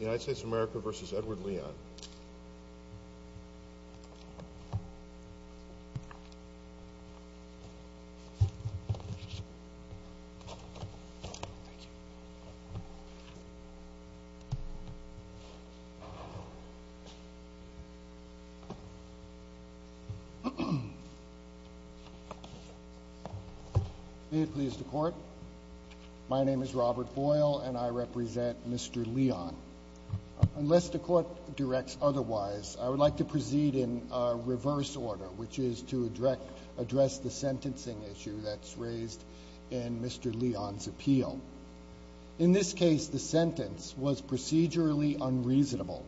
United States of America v. Edward Leon May it please the Court My name is Robert Boyle, and I represent Mr. Leon. Unless the Court directs otherwise, I would like to proceed in reverse order, which is to address the sentencing issue that's raised in Mr. Leon's appeal. In this case, the sentence was procedurally unreasonable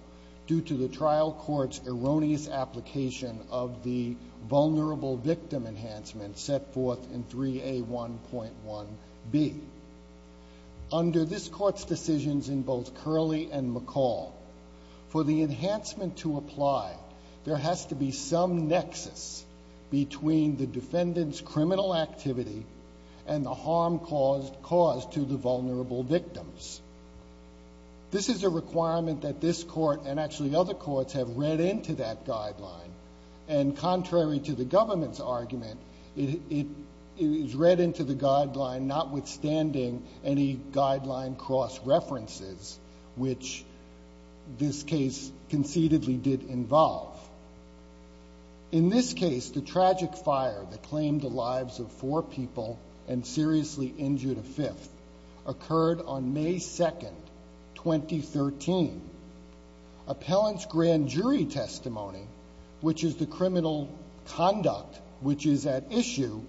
due to the trial court's erroneous application of the Vulnerable Victim Enhancement set forth in 3A1.1b. Under this Court's decisions in both Curley and McCall, for the enhancement to apply, there has to be some nexus between the defendant's criminal activity and the harm caused to the vulnerable victims. This is a requirement that this Court, and actually other courts, have read into that guideline. And contrary to the government's argument, it is read into the guideline notwithstanding any guideline cross-references, which this case concededly did involve. In this case, the tragic fire that claimed the lives of four people and seriously injured a fifth occurred on May 2, 2013. Appellant's grand jury testimony, which is the criminal conduct which is at issue,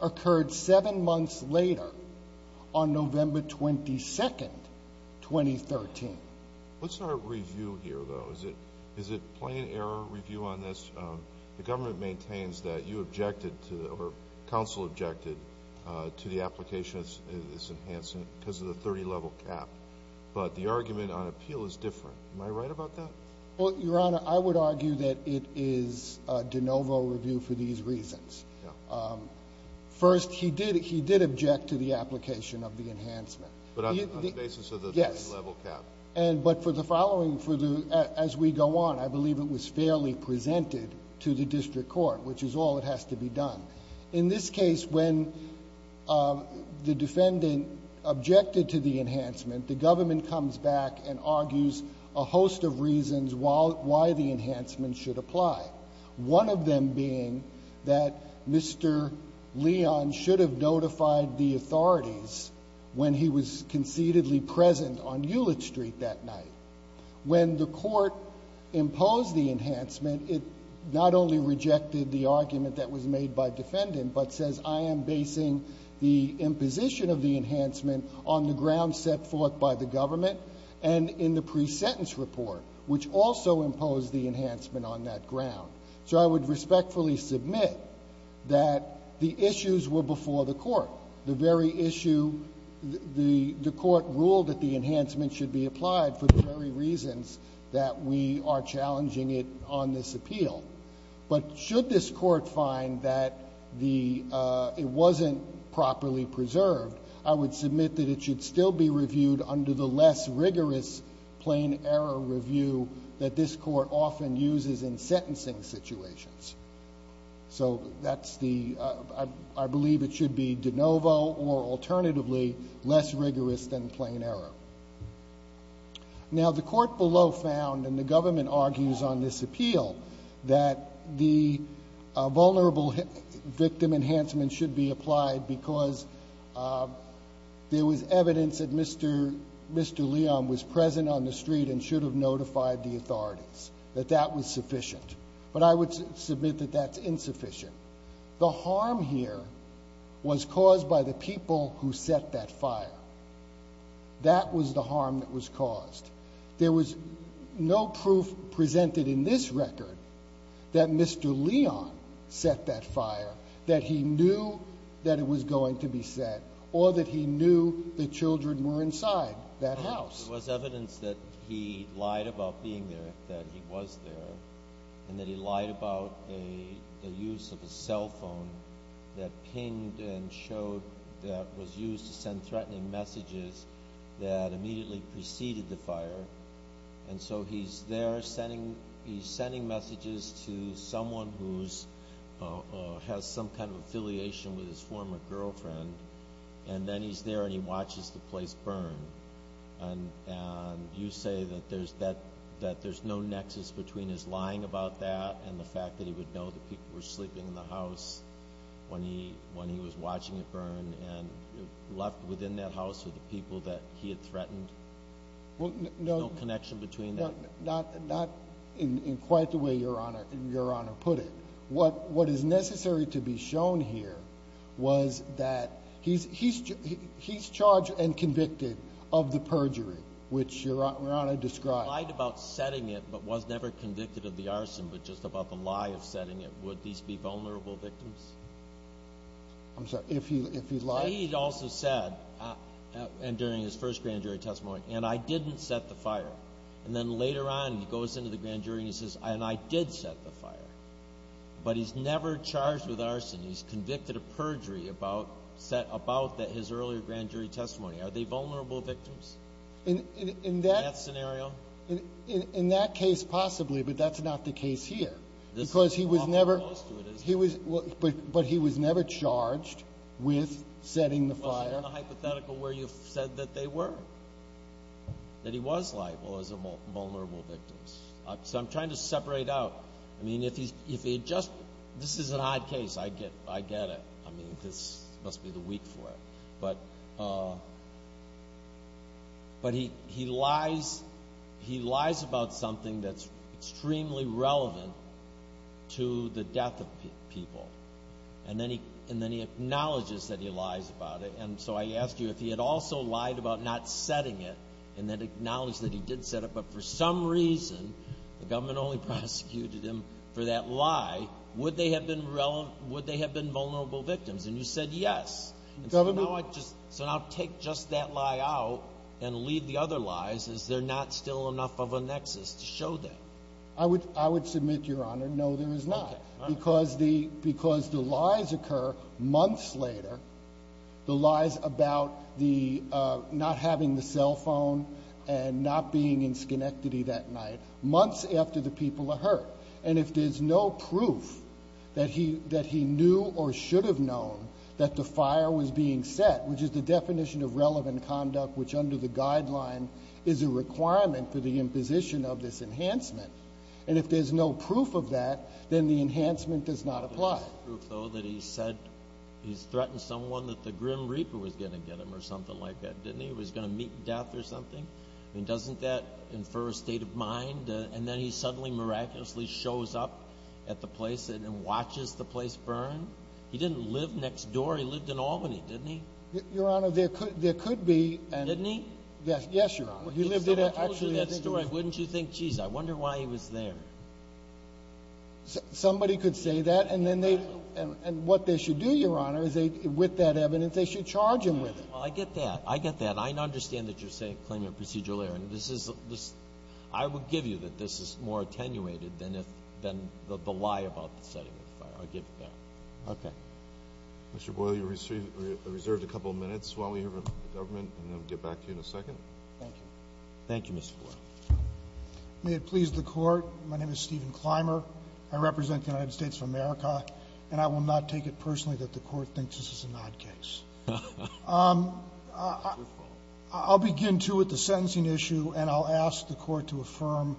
occurred seven months later on November 22, 2013. What's our review here, though? Is it plain error review on this? The government maintains that you objected to, or counsel objected to the application of this enhancement because of the 30-level cap. But the argument on appeal is different. Am I right about that? Well, Your Honor, I would argue that it is de novo review for these reasons. First, he did object to the application of the enhancement. But on the basis of the 30-level cap? Yes. But for the following, as we go on, I believe it was fairly presented to the district court, which is all that has to be done. In this case, when the defendant objected to the enhancement, the government comes back and argues a host of reasons why the enhancement should apply, one of them being that Mr. Leon should have notified the authorities when he was conceitedly present on Hewlett Street that night. When the court imposed the enhancement, it not only rejected the argument that was made by the defendant, but says, I am basing the imposition of the enhancement on the ground set forth by the government and in the pre-sentence report, which also imposed the enhancement on that ground. So I would respectfully submit that the issues were before the court. Now, the very issue, the court ruled that the enhancement should be applied for the very reasons that we are challenging it on this appeal. But should this court find that it wasn't properly preserved, I would submit that it should still be reviewed under the less rigorous plain error review that this court often uses in sentencing situations. So that's the, I believe it should be de novo or alternatively less rigorous than plain error. Now, the court below found, and the government argues on this appeal, that the vulnerable victim enhancement should be applied because there was evidence that Mr. Leon was present on the street and should have notified the authorities, that that was sufficient. But I would submit that that's insufficient. The harm here was caused by the people who set that fire. That was the harm that was caused. There was no proof presented in this record that Mr. Leon set that fire, that he knew that it was going to be set, or that he knew the children were inside that house. There was evidence that he lied about being there, that he was there, and that he lied about the use of a cell phone that pinged and showed that was used to send threatening messages that immediately preceded the fire. And so he's there sending messages to someone who has some kind of affiliation with his former girlfriend, and then he's there and he watches the place burn. And you say that there's no nexus between his lying about that and the fact that he would know that people were sleeping in the house when he was watching it burn and left within that house were the people that he had threatened? There's no connection between that? Not in quite the way Your Honor put it. What is necessary to be shown here was that he's charged and convicted of the perjury, which Your Honor described. He lied about setting it but was never convicted of the arson, but just about the lie of setting it. Would these be vulnerable victims? I'm sorry, if he lied? He also said, during his first grand jury testimony, and I didn't set the fire. And then later on, he goes into the grand jury and he says, and I did set the fire. But he's never charged with arson. He's convicted of perjury about his earlier grand jury testimony. Are they vulnerable victims in that scenario? In that case, possibly, but that's not the case here. Because he was never charged with setting the fire. That's not in the hypothetical where you said that they were. That he was liable as a vulnerable victim. So I'm trying to separate out. I mean, if he had just been. This is an odd case. I get it. I mean, this must be the week for it. But he lies about something that's extremely relevant to the death of people. And then he acknowledges that he lies about it. And so I ask you, if he had also lied about not setting it and then acknowledged that he did set it, but for some reason the government only prosecuted him for that lie, would they have been vulnerable victims? And you said yes. So now take just that lie out and leave the other lies. Is there not still enough of a nexus to show that? I would submit, Your Honor, no, there is not. Because the lies occur months later, the lies about not having the cell phone and not being in Schenectady that night, months after the people are hurt. And if there's no proof that he knew or should have known that the fire was being set, which is the definition of relevant conduct, which under the guideline is a requirement for the imposition of this enhancement, and if there's no proof of that, then the enhancement does not apply. There's no proof, though, that he said he's threatened someone that the Grim Reaper was going to get him or something like that, didn't he? He was going to meet death or something? I mean, doesn't that infer a state of mind? And then he suddenly miraculously shows up at the place and watches the place burn? He didn't live next door. He lived in Albany, didn't he? Your Honor, there could be. Didn't he? Yes, Your Honor. If someone told you that story, wouldn't you think, geez, I wonder why he was there? Somebody could say that, and what they should do, Your Honor, is with that evidence they should charge him with it. Well, I get that. I get that. I understand that you're claiming a procedural error. I would give you that this is more attenuated than the lie about the setting of the fire. I'll give you that. Okay. Mr. Boyle, you're reserved a couple minutes. Why don't we hear from the government, and then we'll get back to you in a second. Thank you. Thank you, Mr. Boyle. May it please the Court, my name is Stephen Clymer. I represent the United States of America, and I will not take it personally that the Court thinks this is an odd case. I'll begin, too, with the sentencing issue, and I'll ask the Court to affirm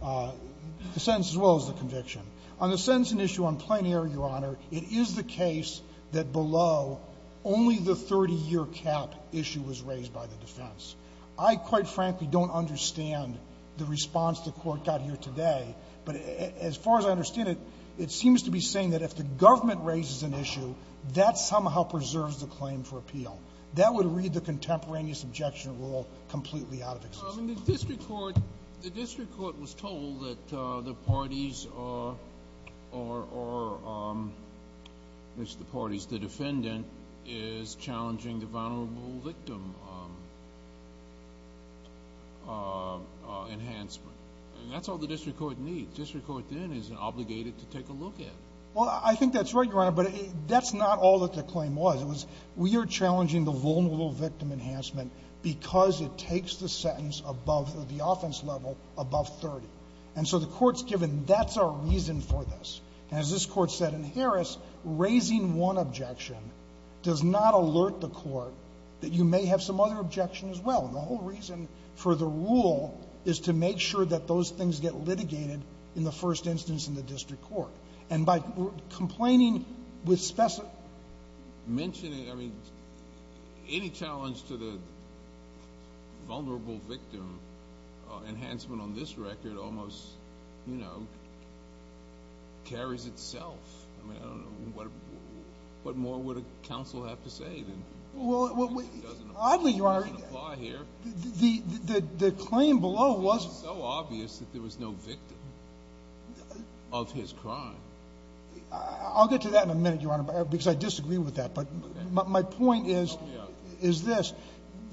the sentence as well as the conviction. On the sentencing issue on plain error, Your Honor, it is the case that below only the 30-year cap issue was raised by the defense. I, quite frankly, don't understand the response the Court got here today, but as far as I understand it, it seems to be saying that if the government raises an issue, that somehow preserves the claim for appeal. That would read the contemporaneous objection rule completely out of existence. The district court was told that the parties are the parties. Because the defendant is challenging the vulnerable victim enhancement. That's all the district court needs. District court then is obligated to take a look at it. Well, I think that's right, Your Honor, but that's not all that the claim was. It was we are challenging the vulnerable victim enhancement because it takes the sentence above the offense level above 30. And so the Court's given that's our reason for this. And as this Court said in Harris, raising one objection does not alert the Court that you may have some other objection as well. And the whole reason for the rule is to make sure that those things get litigated in the first instance in the district court. And by complaining with specific ---- Mentioning, I mean, any challenge to the vulnerable victim enhancement on this record almost, you know, carries itself. I mean, I don't know. What more would a counsel have to say? It doesn't apply here. The claim below was ---- It was so obvious that there was no victim of his crime. I'll get to that in a minute, Your Honor, because I disagree with that. But my point is this.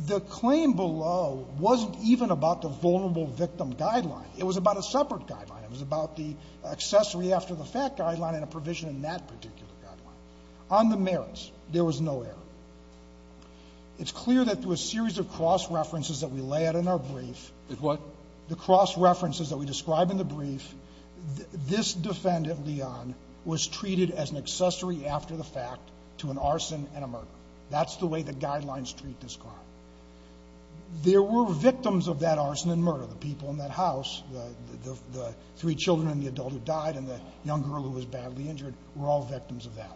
The claim below wasn't even about the vulnerable victim guideline. It was about a separate guideline. It was about the accessory after the fact guideline and a provision in that particular guideline. On the merits, there was no error. It's clear that through a series of cross-references that we lay out in our brief ---- The what? The cross-references that we describe in the brief, this defendant, Leon, was treated as an accessory after the fact to an arson and a murder. That's the way the guidelines treat this crime. There were victims of that arson and murder. The people in that house, the three children and the adult who died and the young girl who was badly injured were all victims of that.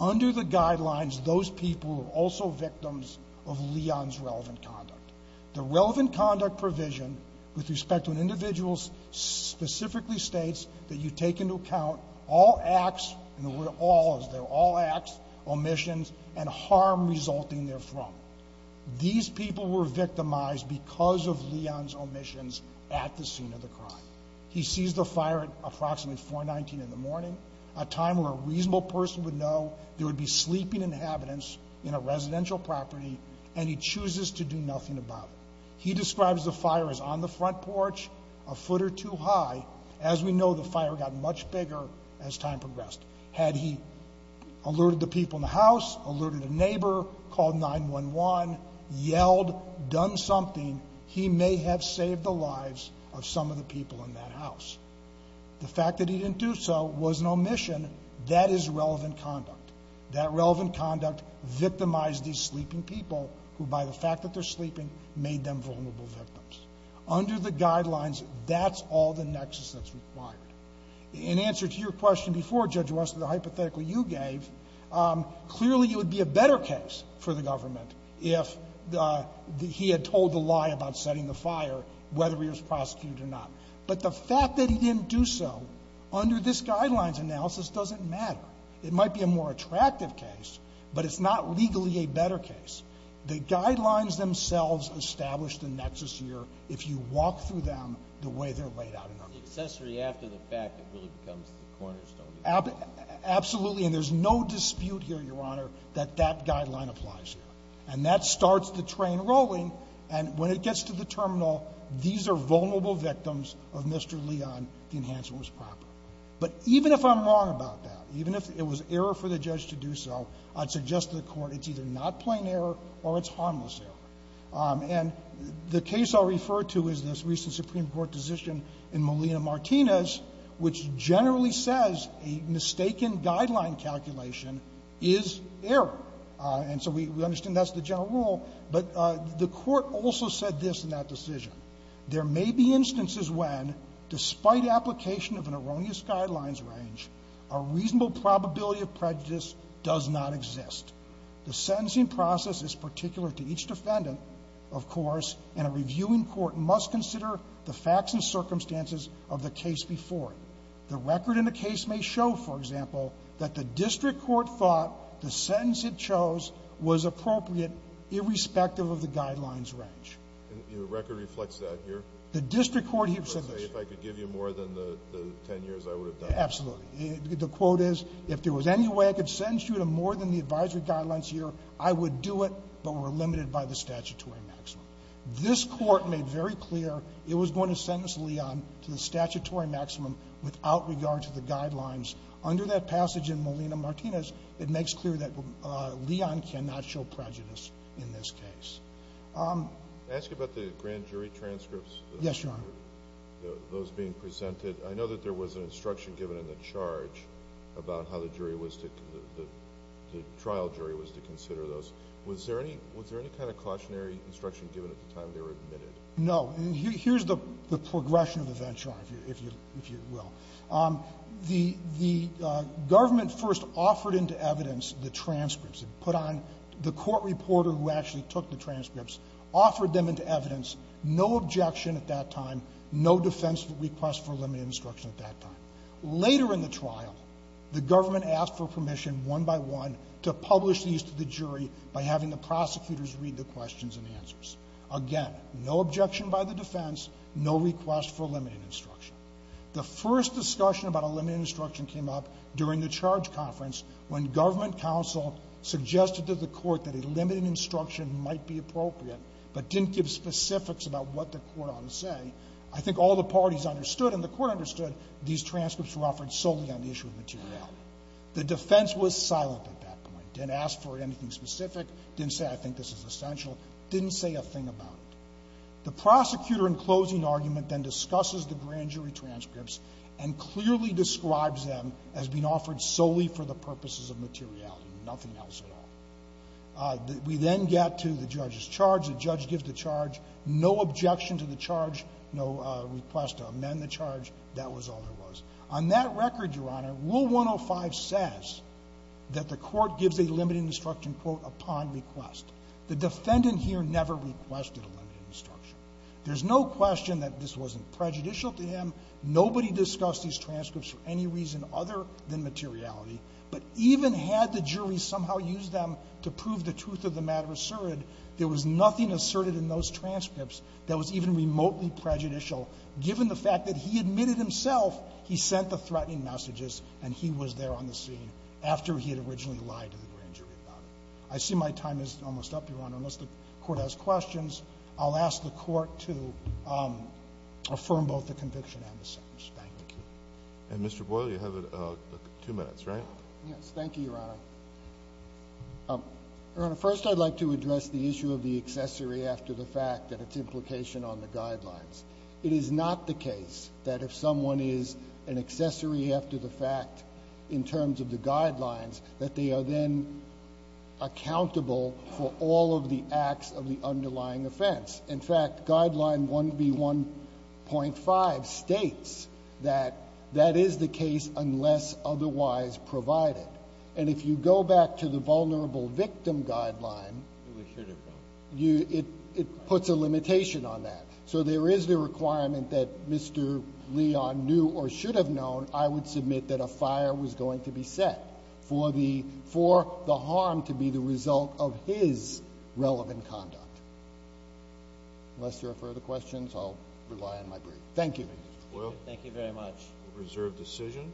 Under the guidelines, those people were also victims of Leon's relevant conduct. The relevant conduct provision with respect to an individual specifically states that you take into account all acts, and the word all is there, all acts, omissions, and harm resulting therefrom. These people were victimized because of Leon's omissions at the scene of the crime. He sees the fire at approximately 419 in the morning, a time where a reasonable person would know there would be sleeping inhabitants in a residential property, and he chooses to do nothing about it. He describes the fire as on the front porch, a foot or two high. As we know, the fire got much bigger as time progressed. Had he alerted the people in the house, alerted a neighbor, called 911, yelled, done something, he may have saved the lives of some of the people in that house. The fact that he didn't do so was an omission. That is relevant conduct. That relevant conduct victimized these sleeping people who, by the fact that they're sleeping, made them vulnerable victims. Under the guidelines, that's all the nexus that's required. In answer to your question before, Judge West, the hypothetical you gave, clearly it would be a better case for the government if he had told the lie about setting the fire, whether he was prosecuted or not. But the fact that he didn't do so, under this Guidelines analysis, doesn't matter. It might be a more attractive case, but it's not legally a better case. The Guidelines themselves establish the nexus here if you walk through them the way they're laid out. It's the accessory after the fact that really becomes the cornerstone. Absolutely. And there's no dispute here, Your Honor, that that Guideline applies here. And that starts the train rolling. And when it gets to the terminal, these are vulnerable victims of Mr. Leon. The enhancement was proper. But even if I'm wrong about that, even if it was error for the judge to do so, I'd suggest to the Court it's either not plain error or it's harmless error. And the case I'll refer to is this recent Supreme Court decision in Molina-Martinez, which generally says a mistaken Guideline calculation is error. And so we understand that's the general rule. But the Court also said this in that decision. There may be instances when, despite application of an erroneous Guidelines range, a reasonable probability of prejudice does not exist. The sentencing process is particular to each defendant, of course, and a reviewing court must consider the facts and circumstances of the case before it. The record in the case may show, for example, that the district court thought the sentence it chose was appropriate irrespective of the Guidelines range. Your record reflects that here? The district court here said this. Let's say if I could give you more than the 10 years, I would have done it. Absolutely. The quote is, if there was any way I could sentence you to more than the advisory Guidelines here, I would do it, but we're limited by the statutory maximum. This Court made very clear it was going to sentence Leon to the statutory maximum without regard to the Guidelines. Under that passage in Molina-Martinez, it makes clear that Leon cannot show prejudice in this case. Can I ask you about the grand jury transcripts? Yes, Your Honor. Those being presented. I know that there was an instruction given in the charge about how the trial jury was to consider those. Was there any kind of cautionary instruction given at the time they were admitted? No. Here's the progression of the venture, if you will. The government first offered into evidence the transcripts. It put on the court reporter who actually took the transcripts, offered them into evidence. No objection at that time. No defense request for limited instruction at that time. Later in the trial, the government asked for permission one by one to publish these to the jury by having the prosecutors read the questions and answers. Again, no objection by the defense, no request for limited instruction. The first discussion about a limited instruction came up during the charge conference when government counsel suggested to the court that a limited instruction might be appropriate, but didn't give specifics about what the court ought to say. I think all the parties understood and the court understood these transcripts were offered solely on the issue of materiality. The defense was silent at that point, didn't ask for anything specific, didn't say I think this is essential, didn't say a thing about it. The prosecutor in closing argument then discusses the grand jury transcripts and clearly describes them as being offered solely for the purposes of materiality, nothing else at all. We then get to the judge's charge. The judge gives the charge. No objection to the charge. No request to amend the charge. That was all there was. On that record, Your Honor, Rule 105 says that the court gives a limited instruction quote upon request. The defendant here never requested a limited instruction. There's no question that this wasn't prejudicial to him. Nobody discussed these transcripts for any reason other than materiality. But even had the jury somehow used them to prove the truth of the matter asserted, there was nothing asserted in those transcripts that was even remotely prejudicial given the fact that he admitted himself he sent the threatening messages and he was there on the scene after he had originally lied to the grand jury about it. I see my time is almost up, Your Honor. Unless the court has questions, I'll ask the court to affirm both the conviction and the sentence. Thank you. And, Mr. Boyle, you have two minutes, right? Yes. Thank you, Your Honor. Your Honor, first I'd like to address the issue of the accessory after the fact and its implication on the guidelines. It is not the case that if someone is an accessory after the fact in terms of the guidelines that they are then accountable for all of the acts of the underlying offense. In fact, Guideline 1B1.5 states that that is the case unless otherwise provided. And if you go back to the Vulnerable Victim Guideline, it puts a limitation on that. So there is the requirement that Mr. Leon knew or should have known, I would submit that a fire was going to be set for the harm to be the result of his relevant conduct. Unless there are further questions, I'll rely on my brief. Thank you, Mr. Boyle. Thank you very much. Reserve decision.